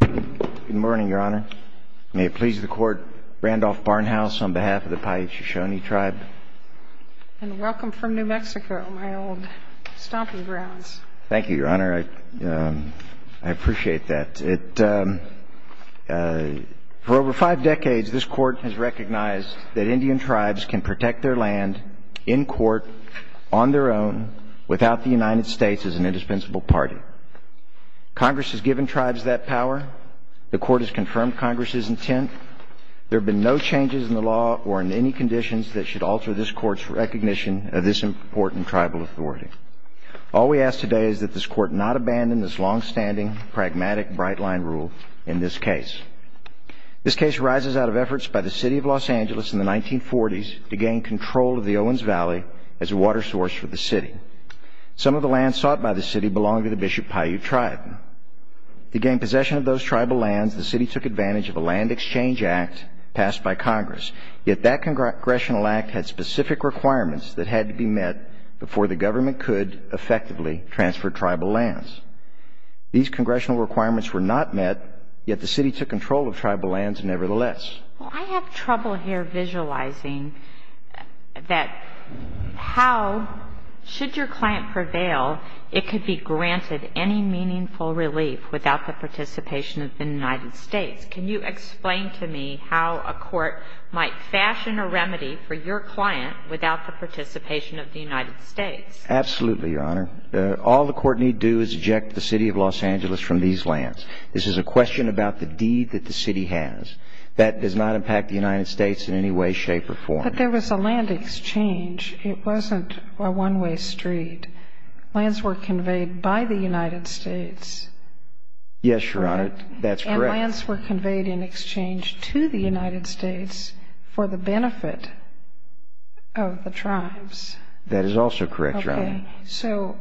Good morning, Your Honor. May it please the Court, Randolph Barnhouse, on behalf of the Paiute-Shoshone tribe. And welcome from New Mexico, my old stomping grounds. Thank you, Your Honor. I appreciate that. For over five decades, this Court has recognized that Indian tribes can protect their land in court, on their own, without the United States as an asset power. The Court has confirmed Congress's intent. There have been no changes in the law or in any conditions that should alter this Court's recognition of this important tribal authority. All we ask today is that this Court not abandon this longstanding, pragmatic, bright-line rule in this case. This case arises out of efforts by the City of Los Angeles in the 1940s to gain control of the Owens Valley as a water source for the City. Some of the land sought by the City belonged to the Bishop Paiute tribe. To gain possession of those tribal lands, the City took advantage of a land exchange act passed by Congress. Yet that congressional act had specific requirements that had to be met before the government could effectively transfer tribal lands. These congressional requirements were not met, yet the City took control of tribal lands nevertheless. Well, I have trouble here visualizing that how, should your client prevail, it could be granted any meaningful relief without the participation of the United States. Can you explain to me how a court might fashion a remedy for your client without the participation of the United States? Absolutely, Your Honor. All the Court need do is eject the City of Los Angeles from these lands. This is a question about the deed that the City has. That does not impact the United States in any way, shape, or form. But there was a land exchange. It wasn't a one-way street. Lands were conveyed by the United States. Yes, Your Honor. That's correct. And lands were conveyed in exchange to the United States for the benefit of the tribes. That is also correct, Your Honor. So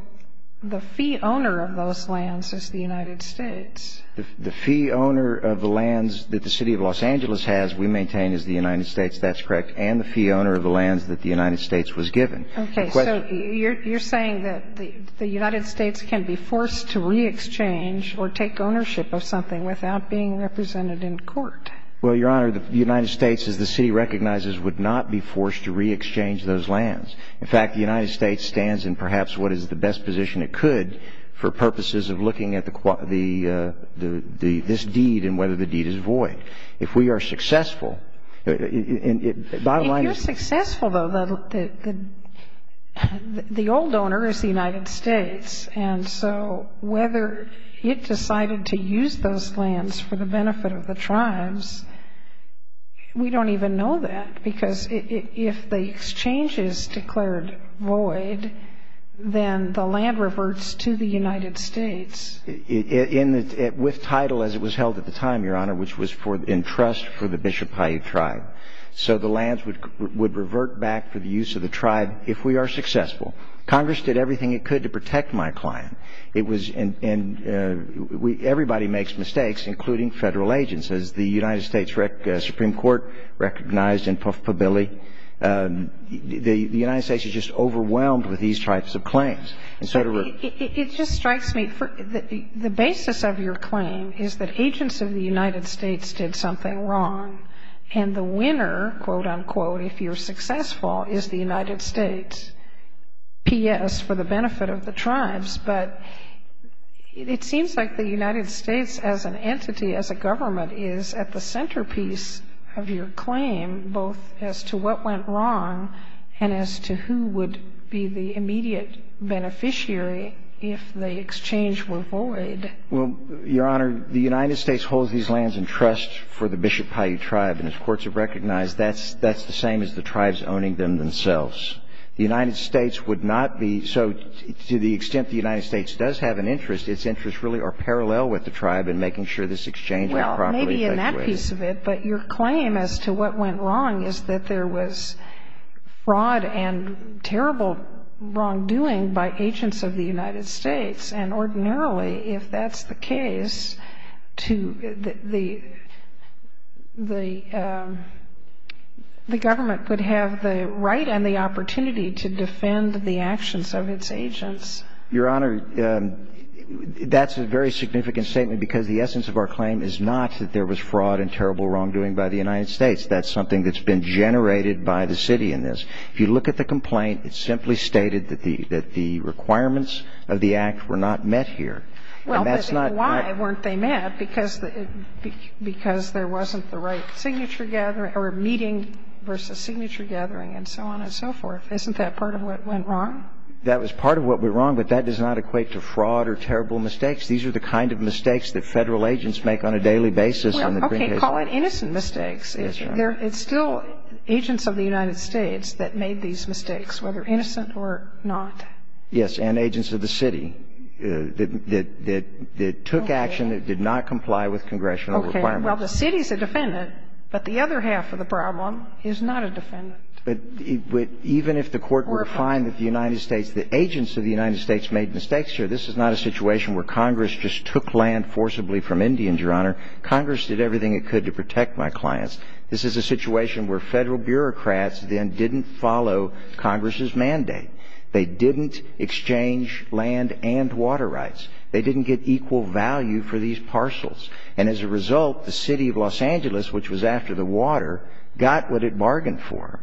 the fee owner of those lands is the United States. The fee owner of the lands that the City of Los Angeles has, we maintain, is the United States. The fee owner of the lands that the United States was given. Okay. So you're saying that the United States can be forced to re-exchange or take ownership of something without being represented in court? Well, Your Honor, the United States, as the City recognizes, would not be forced to re-exchange those lands. In fact, the United States stands in perhaps what is the best position it could for purposes of looking at the quota, the – this deed and whether the deed is void. If we are successful – If you're successful, though, the old owner is the United States. And so whether it decided to use those lands for the benefit of the tribes, we don't even know that. Because if the exchange is declared void, then the land reverts to the United States. With title, as it was held at the time, Your Honor, which was for – in trust for the Chippewa tribe. So the lands would revert back for the use of the tribe if we are successful. Congress did everything it could to protect my client. It was – and we – everybody makes mistakes, including Federal agents. As the United States Supreme Court recognized in Puff Pabilli, the United States is just overwhelmed with these types of claims. And so to – It just strikes me, the basis of your claim is that agents of the United States did something wrong. And the winner, quote, unquote, if you're successful, is the United States. P.S. for the benefit of the tribes. But it seems like the United States as an entity, as a government, is at the centerpiece of your claim, both as to what went wrong and as to who would be the immediate beneficiary if the exchange were void. Well, Your Honor, the United States holds these lands in trust for the Bishop Paiute tribe. And as courts have recognized, that's – that's the same as the tribes owning them themselves. The United States would not be – so to the extent the United States does have an interest, its interests really are parallel with the tribe in making sure this exchange is properly effectuated. Well, maybe in that piece of it. But your claim as to what went wrong is that there was fraud and terrible wrongdoing by agents of the United States. And ordinarily, if that's the case, to the – the government would have the right and the opportunity to defend the actions of its agents. Your Honor, that's a very significant statement because the essence of our claim is not that there was fraud and terrible wrongdoing by the United States. That's something that's been generated by the city in this. If you look at the complaint, it simply stated that the – that the requirements of the Act were not met here. And that's not – Well, but then why weren't they met? Because – because there wasn't the right signature gathering – or meeting versus signature gathering and so on and so forth. Isn't that part of what went wrong? That was part of what went wrong, but that does not equate to fraud or terrible mistakes. These are the kind of mistakes that Federal agents make on a daily basis on the print pages. Well, okay. Call it innocent mistakes. Yes, Your Honor. It's still agents of the United States that made these mistakes, whether innocent or not. Yes, and agents of the city that – that took action that did not comply with congressional requirements. Okay. Well, the city's a defendant, but the other half of the problem is not a defendant. But even if the Court were to find that the United States – the agents of the United States made mistakes here, this is not a situation where Congress just took land forcibly from Indians, Your Honor. Congress did everything it could to protect my clients. This is a situation where Federal bureaucrats then didn't follow Congress's mandate. They didn't exchange land and water rights. They didn't get equal value for these parcels. And as a result, the city of Los Angeles, which was after the water, got what it bargained for.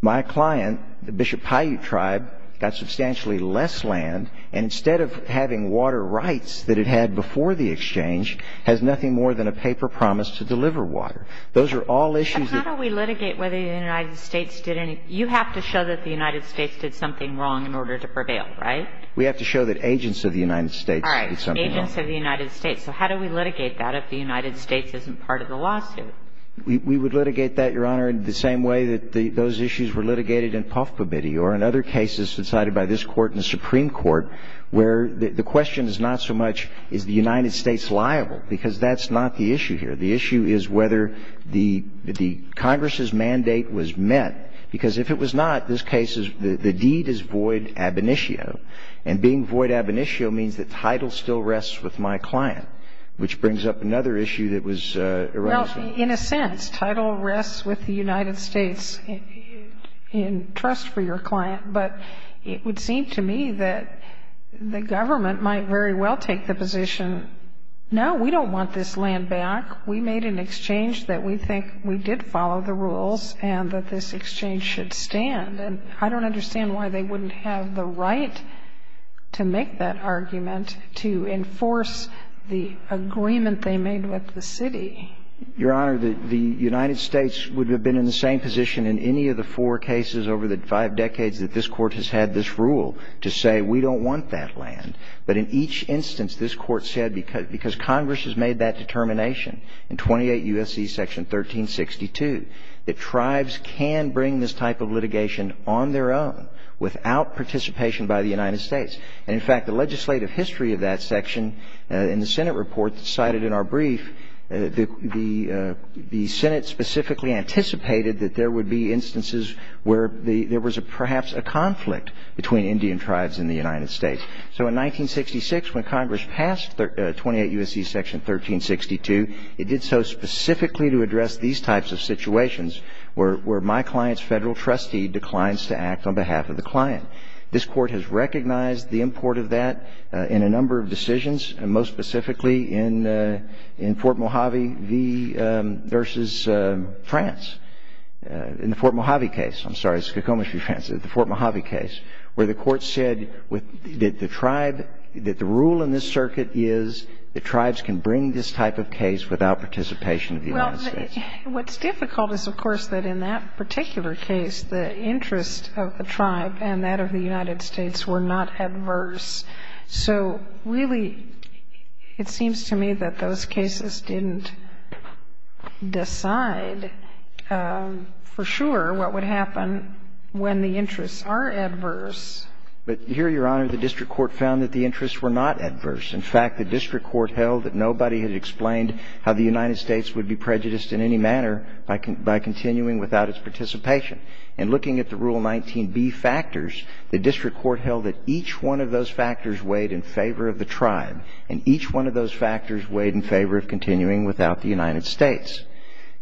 My client, the Bishop Paiute tribe, got substantially less land, and instead of having water rights that it had before the exchange, has nothing more than a paper promise to deliver water. Those are all issues that – But how do we litigate whether the United States did any – you have to show that the United States did something wrong in order to prevail, right? We have to show that agents of the United States did something wrong. All right. Agents of the United States. So how do we litigate that if the United States isn't part of the lawsuit? We would litigate that, Your Honor, in the same way that those issues were litigated in Puff Pobity or in other cases decided by this Court in the Supreme Court, where the question is not so much, is the United States liable? Because that's not the issue here. The issue is whether the Congress's mandate was met. Because if it was not, this case is – the deed is void ab initio. And being void ab initio means that title still rests with my client, which brings up another issue that was – Well, in a sense, title rests with the United States in trust for your client. But it would seem to me that the government might very well take the position, no, we don't want this land back. We made an exchange that we think we did follow the rules and that this exchange should stand. And I don't understand why they wouldn't have the right to make that argument to enforce the agreement they made with the city. Your Honor, the United States would have been in the same position in any of the four cases over the five decades that this Court has had this rule to say we don't want that land. But in each instance, this Court said because Congress has made that determination in 28 U.S.C. section 1362, that tribes can bring this type of litigation on their own without participation by the United States. And in fact, the legislative history of that section in the Senate report cited in our brief, the Senate specifically anticipated that there would be instances where there was perhaps a conflict between Indian tribes in the United States. So in 1966, when Congress passed 28 U.S.C. section 1362, it did so specifically to address these types of situations where my client's federal trustee declines to act on behalf of the client. This Court has recognized the import of that in a number of decisions, and most specifically in Fort Mojave v. France, in the Fort Mojave case. I'm sorry, it's the Fort Mojave case, where the Court said that the rule in this circuit is that tribes can bring this type of case without participation of the United States. Well, what's difficult is, of course, that in that particular case, the interest of the United States was not adverse. And it seems to me that those cases didn't decide for sure what would happen when the interests are adverse. But here, Your Honor, the district court found that the interests were not adverse. In fact, the district court held that nobody had explained how the United States would be prejudiced in any manner by continuing without its participation. And looking at the Rule 19b factors, the district court held that each one of those factors weighed in favor of the tribe, and each one of those factors weighed in favor of continuing without the United States.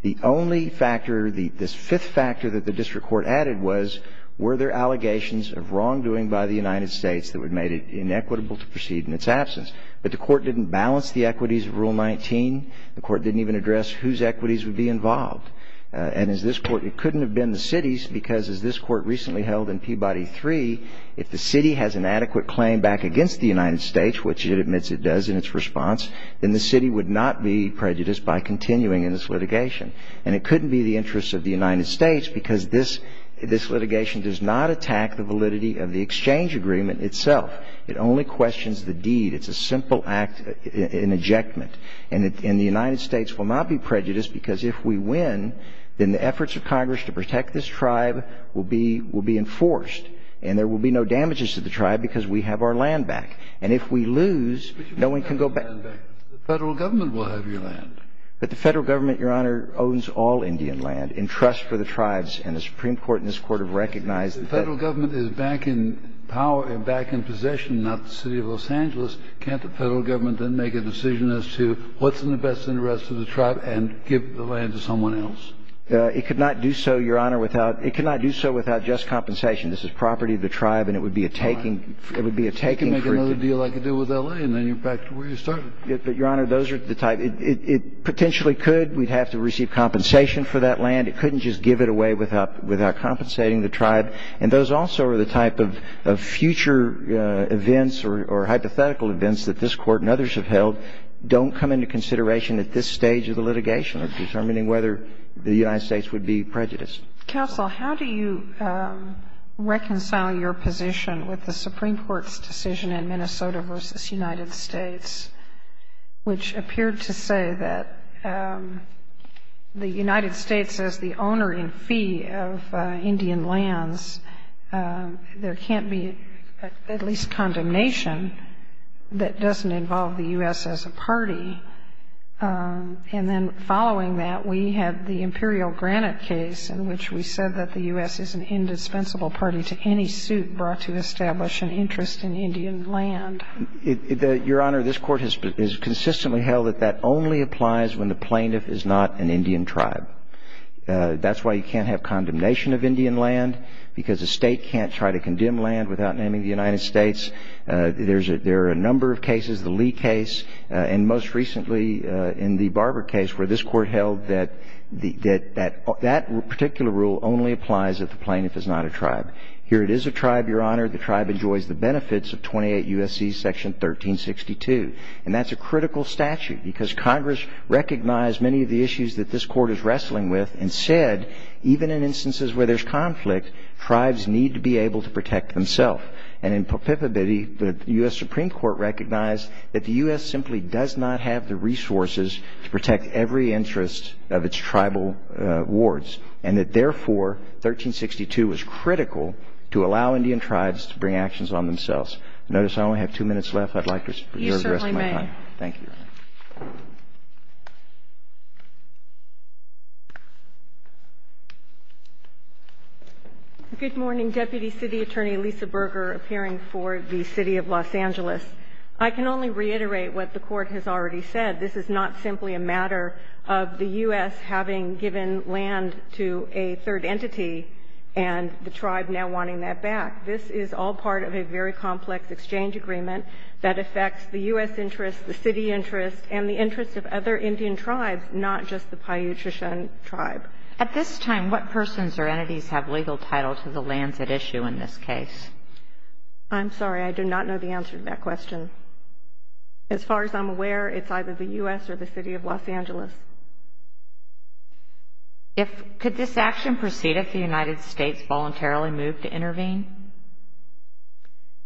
The only factor, this fifth factor that the district court added was, were there allegations of wrongdoing by the United States that would have made it inequitable to proceed in its absence? But the Court didn't balance the equities of Rule 19. The Court didn't even address whose equities would be involved. And as this Court, it couldn't have been the city's, because as this Court recently held in Peabody 3, if the city has an adequate claim back against the United States, which it admits it does in its response, then the city would not be prejudiced by continuing in its litigation. And it couldn't be the interests of the United States, because this litigation does not attack the validity of the exchange agreement itself. It only questions the deed. It's a simple act, an ejectment. And the United States will not be prejudiced, because if we win, then the efforts of Congress to protect this tribe will be enforced. And there will be no damages to the tribe, because we have our land back. And if we lose, no one can go back. But you've got the land back. The Federal Government will have your land. But the Federal Government, Your Honor, owns all Indian land in trust for the tribes. And the Supreme Court and this Court have recognized that. The Federal Government is back in power and back in possession, not the city of Los Angeles. Can't the Federal Government then make a decision as to what's in the best interest of the tribe and give the land to someone else? It could not do so, Your Honor, without — it could not do so without just compensation. This is property of the tribe, and it would be a taking — it would be a taking for — All right. You can make another deal like you did with L.A., and then you're back to where you started. But, Your Honor, those are the type — it potentially could. We'd have to receive compensation for that land. It couldn't just give it away without — without compensating the tribe. And those also are the type of future events or hypothetical events that this Court and others have held don't come into consideration at this stage of the litigation of determining whether the United States would be prejudiced. Counsel, how do you reconcile your position with the Supreme Court's decision in Minnesota v. United States, which appeared to say that the United States, as the owner in fee of the U.S., is a party. And then following that, we have the Imperial Granite case in which we said that the U.S. is an indispensable party to any suit brought to establish an interest in Indian land. Your Honor, this Court has consistently held that that only applies when the plaintiff is not an Indian tribe. That's why you can't have condemnation of Indian land, because a state can't try to condemn land without naming the United States. There are a number of cases, the Lee case, and most recently in the Barber case, where this Court held that that particular rule only applies if the plaintiff is not a tribe. Here it is a tribe, Your Honor. The tribe enjoys the benefits of 28 U.S.C. section 1362. And that's a critical statute, because Congress recognized many of the issues that this Court is wrestling with and said, even in instances where there's conflict, tribes need to be recognized that the U.S. simply does not have the resources to protect every interest of its tribal wards. And that, therefore, 1362 is critical to allow Indian tribes to bring actions on themselves. I notice I only have two minutes left. I'd like to reserve the rest of my time. You certainly may. Thank you, Your Honor. Good morning, Deputy City Attorney Lisa Berger, appearing for the City of Los Angeles. I can only reiterate what the Court has already said. This is not simply a matter of the U.S. having given land to a third entity and the tribe now wanting that back. This is all part of a very complex exchange agreement that affects the U.S. interest, the City interest, and the interest of other Indian tribes, not just the Paiute-Trishan tribe. At this time, what persons or entities have legal title to the lands at issue in this case? I'm sorry. I do not know the answer to that question. As far as I'm aware, it's either the U.S. or the City of Los Angeles. Could this action proceed if the United States voluntarily moved to intervene?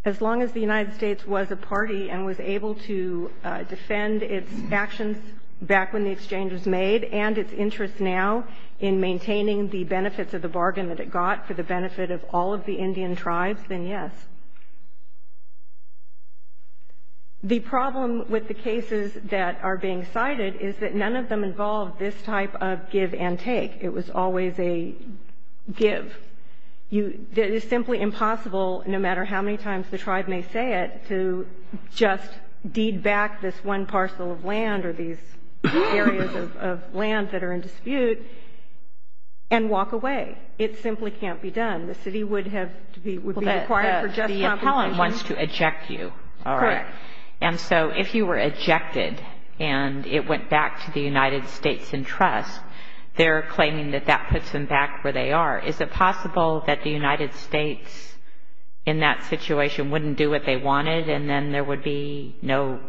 As long as the United States was a party and was able to defend its actions back when the exchange was made and its interest now in maintaining the benefits of the bargain that it got for the benefit of all of the Indian tribes, then yes. The problem with the cases that are being cited is that none of them involve this type of give and take. It was always a give. It is simply impossible, no matter how many times the tribe may say it, to just deed back this one parcel of land or these areas of land that are in dispute and walk away. It simply can't be done. The City would have to be required for just compensation. The appellant wants to eject you, all right. Correct. And so if you were ejected and it went back to the United States in trust, they're claiming that that puts them back where they are. Is it possible that the United States in that situation wouldn't do what they wanted and then there would be no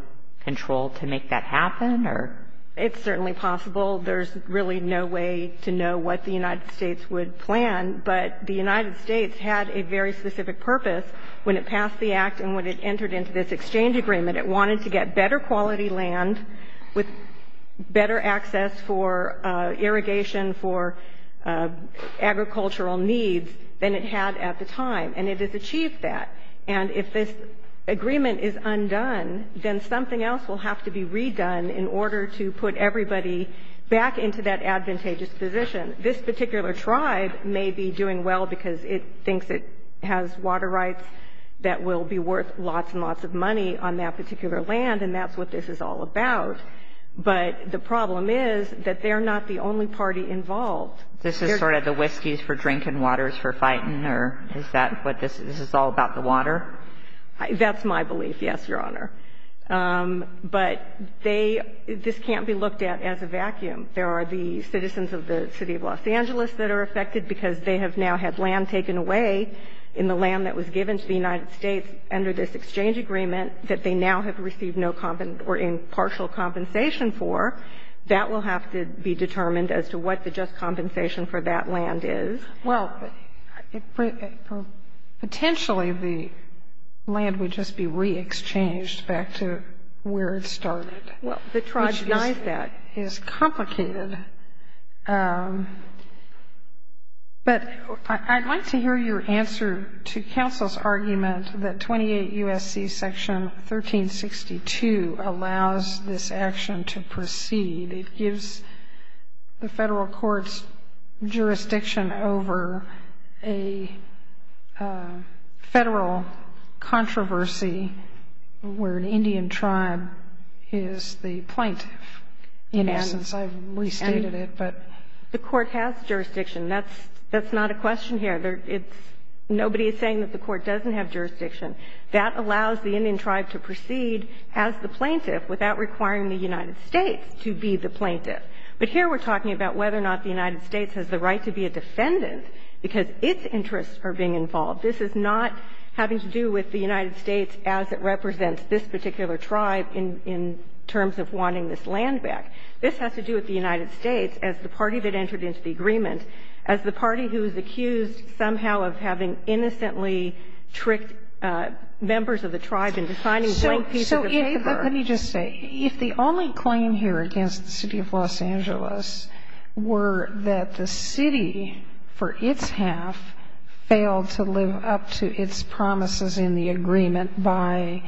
control to make that happen, or? It's certainly possible. There's really no way to know what the United States would plan. But the United States had a very specific purpose when it passed the Act and when it wanted to get better quality land with better access for irrigation, for agricultural needs than it had at the time. And it has achieved that. And if this agreement is undone, then something else will have to be redone in order to put everybody back into that advantageous position. This particular tribe may be doing well because it thinks it has water rights that will be able to provide lots and lots of money on that particular land, and that's what this is all about. But the problem is that they're not the only party involved. This is sort of the whiskeys for drinking, waters for fighting, or is that what this is? This is all about the water? That's my belief, yes, Your Honor. But they – this can't be looked at as a vacuum. There are the citizens of the City of Los Angeles that are affected because they have land taken away in the land that was given to the United States under this exchange agreement that they now have received no – or impartial compensation for. That will have to be determined as to what the just compensation for that land is. Well, potentially the land would just be re-exchanged back to where it started. Well, the tribe denies that. That is complicated. But I'd like to hear your answer to counsel's argument that 28 U.S.C. Section 1362 allows this action to proceed. It gives the federal courts jurisdiction over a federal controversy where an Indian tribe is the plaintiff. In essence, I've restated it, but – The court has jurisdiction. That's not a question here. It's – nobody is saying that the court doesn't have jurisdiction. That allows the Indian tribe to proceed as the plaintiff without requiring the United States to be the plaintiff. But here we're talking about whether or not the United States has the right to be a defendant because its interests are being involved. This is not having to do with the United States as it This has to do with the United States as the party that entered into the agreement, as the party who is accused somehow of having innocently tricked members of the tribe into signing blank pieces of paper. So, let me just say, if the only claim here against the City of Los Angeles were that the City, for its half, failed to live up to its promises in the agreement by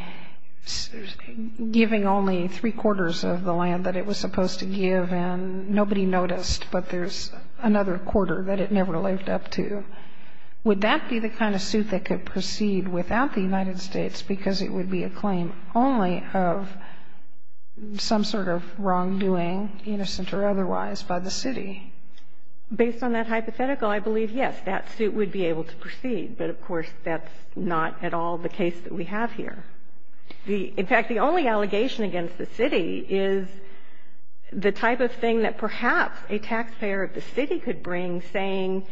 giving only three-quarters of the land that it was supposed to give, and nobody noticed, but there's another quarter that it never lived up to, would that be the kind of suit that could proceed without the United States because it would be a claim only of some sort of wrongdoing, innocent or otherwise, by the City? Based on that hypothetical, I believe, yes, that suit would be able to proceed. But, of course, that's not at all the case that we have here. In fact, the only allegation against the City is the type of thing that perhaps a taxpayer of the City could bring saying,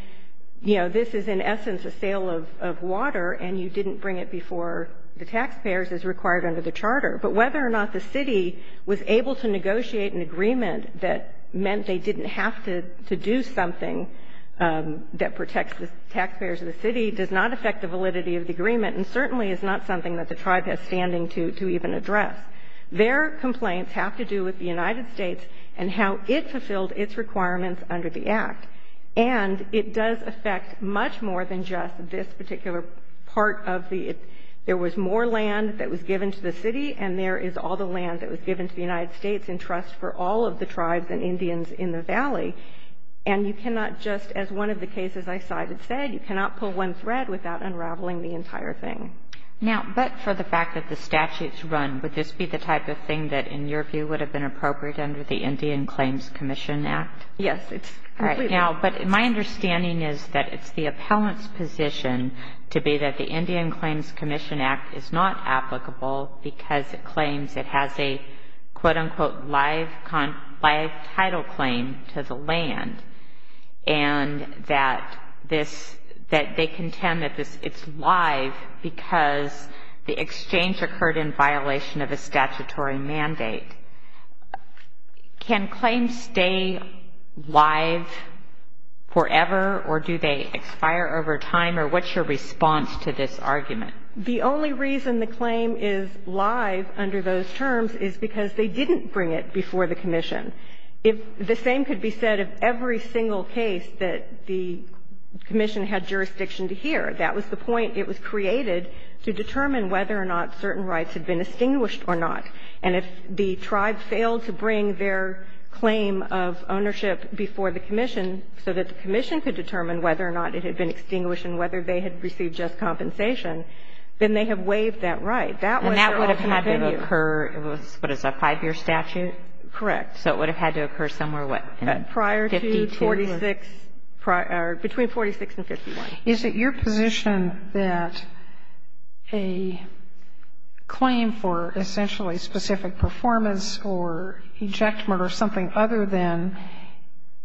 you know, this is in essence a sale of water and you didn't bring it before the taxpayers as required under the charter. But whether or not the City was able to negotiate an agreement that meant they didn't have to do something that protects the taxpayers of the City does not affect the validity of the agreement and certainly is not something that the Tribe has standing to even address. Their complaints have to do with the United States and how it fulfilled its requirements under the Act. And it does affect much more than just this particular part of the, there was more land that was given to the City and there is all the land that was given to the United States in trust for all of the Tribes and Indians in the Valley. And you cannot just, as one of the cases I cited said, you cannot pull one thread without unraveling the entire thing. Now, but for the fact that the statute is run, would this be the type of thing that in your view would have been appropriate under the Indian Claims Commission Act? Yes. All right. Now, but my understanding is that it's the appellant's position to be that the Indian Claims Commission Act is not applicable because it claims it has a, quote, unquote, live title claim to the land and that this, that they contend that this, it's live because the exchange occurred in violation of a statutory mandate. Can claims stay live forever or do they expire over time or what's your response to this argument? The only reason the claim is live under those terms is because they didn't bring it before the commission. The same could be said of every single case that the commission had jurisdiction to hear. That was the point it was created to determine whether or not certain rights had been extinguished or not. And if the Tribe failed to bring their claim of ownership before the commission so that the commission could determine whether or not it had been extinguished and whether they had received just compensation, then they have waived that right. That was their ultimate venue. And that would have had to occur, what is it, a five-year statute? Correct. So it would have had to occur somewhere, what, 52 years? Prior to 46, or between 46 and 51. Is it your position that a claim for essentially specific performance or ejectment or something other than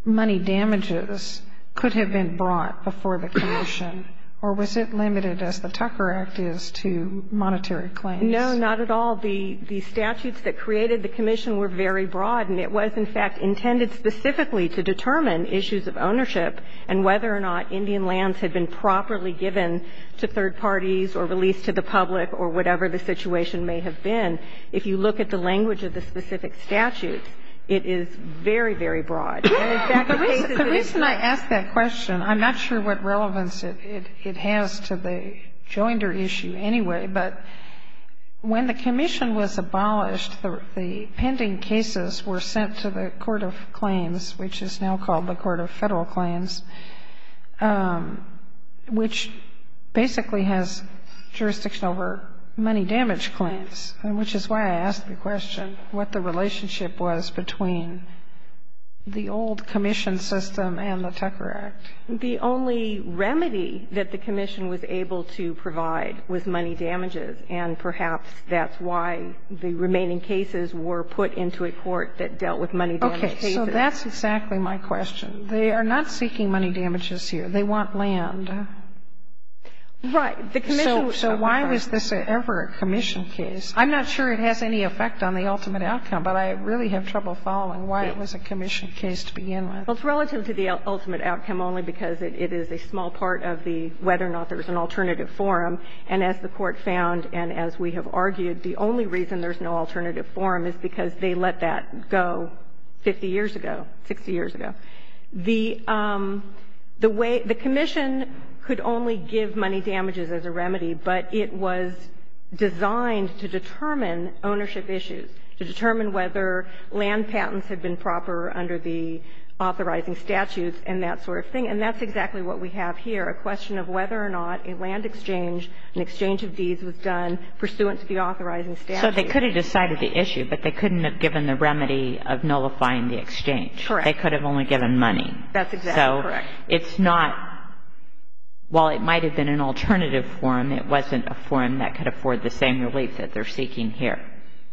money damages could have been brought before the commission, or was it limited, as the Tucker Act is, to monetary claims? No, not at all. The statutes that created the commission were very broad, and it was, in fact, intended specifically to determine issues of ownership and whether or not Indian lands had been properly given to third parties or released to the public or whatever the situation may have been. If you look at the language of the specific statutes, it is very, very broad. The reason I ask that question, I'm not sure what relevance it has to the Joinder issue anyway, but when the commission was abolished, the pending cases were sent to the Court of Claims, which is now called the Court of Federal Claims, which basically has jurisdiction over money damage claims, and which is why I asked the question what the relationship was between the old commission system and the Tucker Act. The only remedy that the commission was able to provide was money damages, and perhaps that's why the remaining cases were put into a court that dealt with money damage cases. Okay. So that's exactly my question. They are not seeking money damages here. They want land. Right. The commission was coming back. So why was this ever a commission case? I'm not sure it has any effect on the ultimate outcome, but I really have trouble following why it was a commission case to begin with. Well, it's relative to the ultimate outcome only because it is a small part of the whether or not there was an alternative forum. And as the Court found and as we have argued, the only reason there's no alternative forum is because they let that go 50 years ago, 60 years ago. The way the commission could only give money damages as a remedy, but it was designed to determine ownership issues, to determine whether land patents had been proper under the authorizing statutes and that sort of thing. And that's exactly what we have here, a question of whether or not a land exchange, an exchange of deeds was done pursuant to the authorizing statutes. So they could have decided the issue, but they couldn't have given the remedy of nullifying the exchange. Correct. They could have only given money. That's exactly correct. So it's not – while it might have been an alternative forum, it wasn't a forum that could afford the same relief that they're seeking here.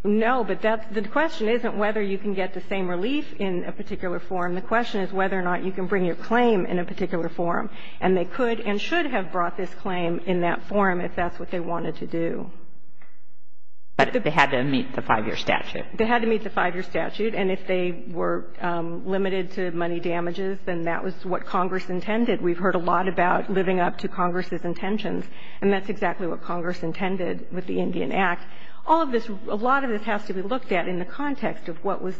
No, but that's – the question isn't whether you can get the same relief in a particular forum. The question is whether or not you can bring your claim in a particular forum. And they could and should have brought this claim in that forum if that's what they wanted to do. But they had to meet the 5-year statute. They had to meet the 5-year statute. And if they were limited to money damages, then that was what Congress intended. We've heard a lot about living up to Congress's intentions. And that's exactly what Congress intended with the Indian Act. All of this – a lot of this has to be looked at in the context of what was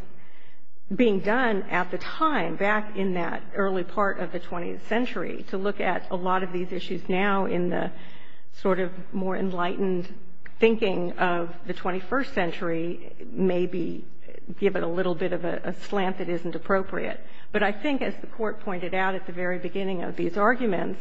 being done at the time, back in that early part of the 20th century, to look at a lot of these issues now in the sort of more enlightened thinking of the 21st century, maybe give it a little bit of a slant that isn't appropriate. But I think, as the Court pointed out at the very beginning of these arguments,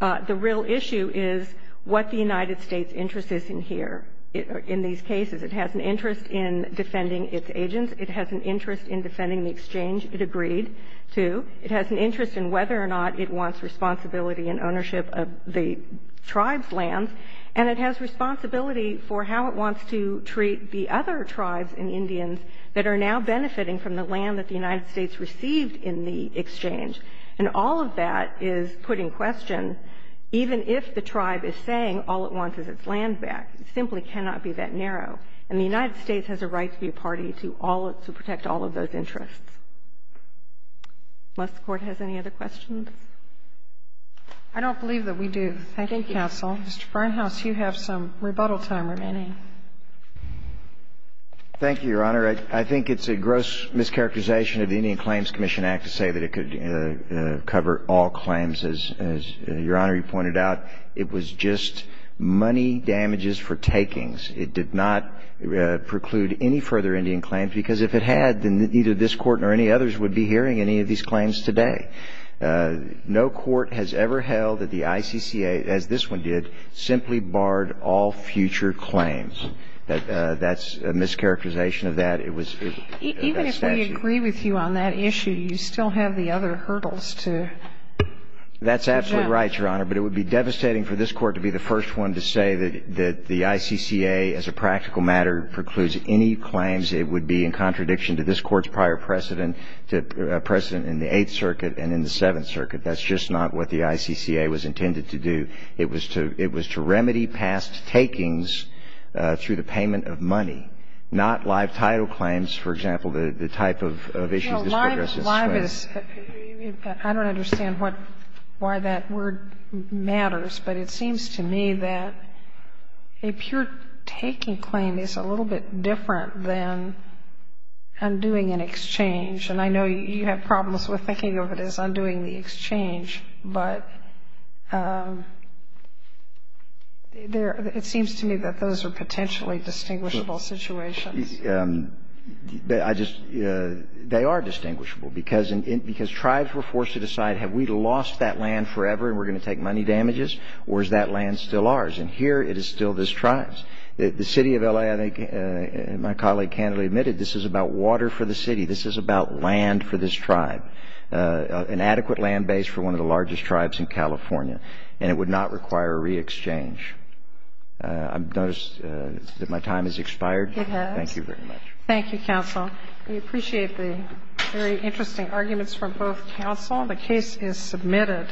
the real issue is what the United States' interest is in here, in these cases. It has an interest in defending its agents. It has an interest in defending the exchange it agreed to. It has an interest in whether or not it wants responsibility and ownership of the tribe's lands. And it has responsibility for how it wants to treat the other tribes and Indians that are now benefiting from the land that the United States received in the exchange. And all of that is put in question, even if the tribe is saying all it wants is its land back. It simply cannot be that narrow. And the United States has a right to be a party to all of – to protect all of those interests. Unless the Court has any other questions. I don't believe that we do. Thank you. Thank you, counsel. Mr. Barnhouse, you have some rebuttal time remaining. Thank you, Your Honor. I think it's a gross mischaracterization of the Indian Claims Commission Act to say that it could cover all claims. As Your Honor, you pointed out, it was just money damages for takings. It did not preclude any further Indian claims. Because if it had, then neither this Court nor any others would be hearing any of these claims today. No court has ever held that the ICCA, as this one did, simply barred all future claims. That's a mischaracterization of that. It was a statute. I agree with you on that issue. You still have the other hurdles to address. That's absolutely right, Your Honor. But it would be devastating for this Court to be the first one to say that the ICCA, as a practical matter, precludes any claims. It would be in contradiction to this Court's prior precedent in the Eighth Circuit and in the Seventh Circuit. That's just not what the ICCA was intended to do. It was to remedy past takings through the payment of money, not live title claims, for example, the type of issues this Court addresses today. No, live is – I don't understand what – why that word matters, but it seems to me that a pure taking claim is a little bit different than undoing an exchange. And I know you have problems with thinking of it as undoing the exchange, but it seems to me that those are potentially distinguishable situations. I just – they are distinguishable, because tribes were forced to decide have we lost that land forever and we're going to take money damages, or is that land still ours? And here it is still this tribe's. The city of L.A., I think, my colleague candidly admitted, this is about water for the city. This is about land for this tribe, an adequate land base for one of the largest tribes in California. And it would not require a re-exchange. I've noticed that my time has expired. It has. Thank you very much. Thank you, counsel. We appreciate the very interesting arguments from both counsel. The case is submitted.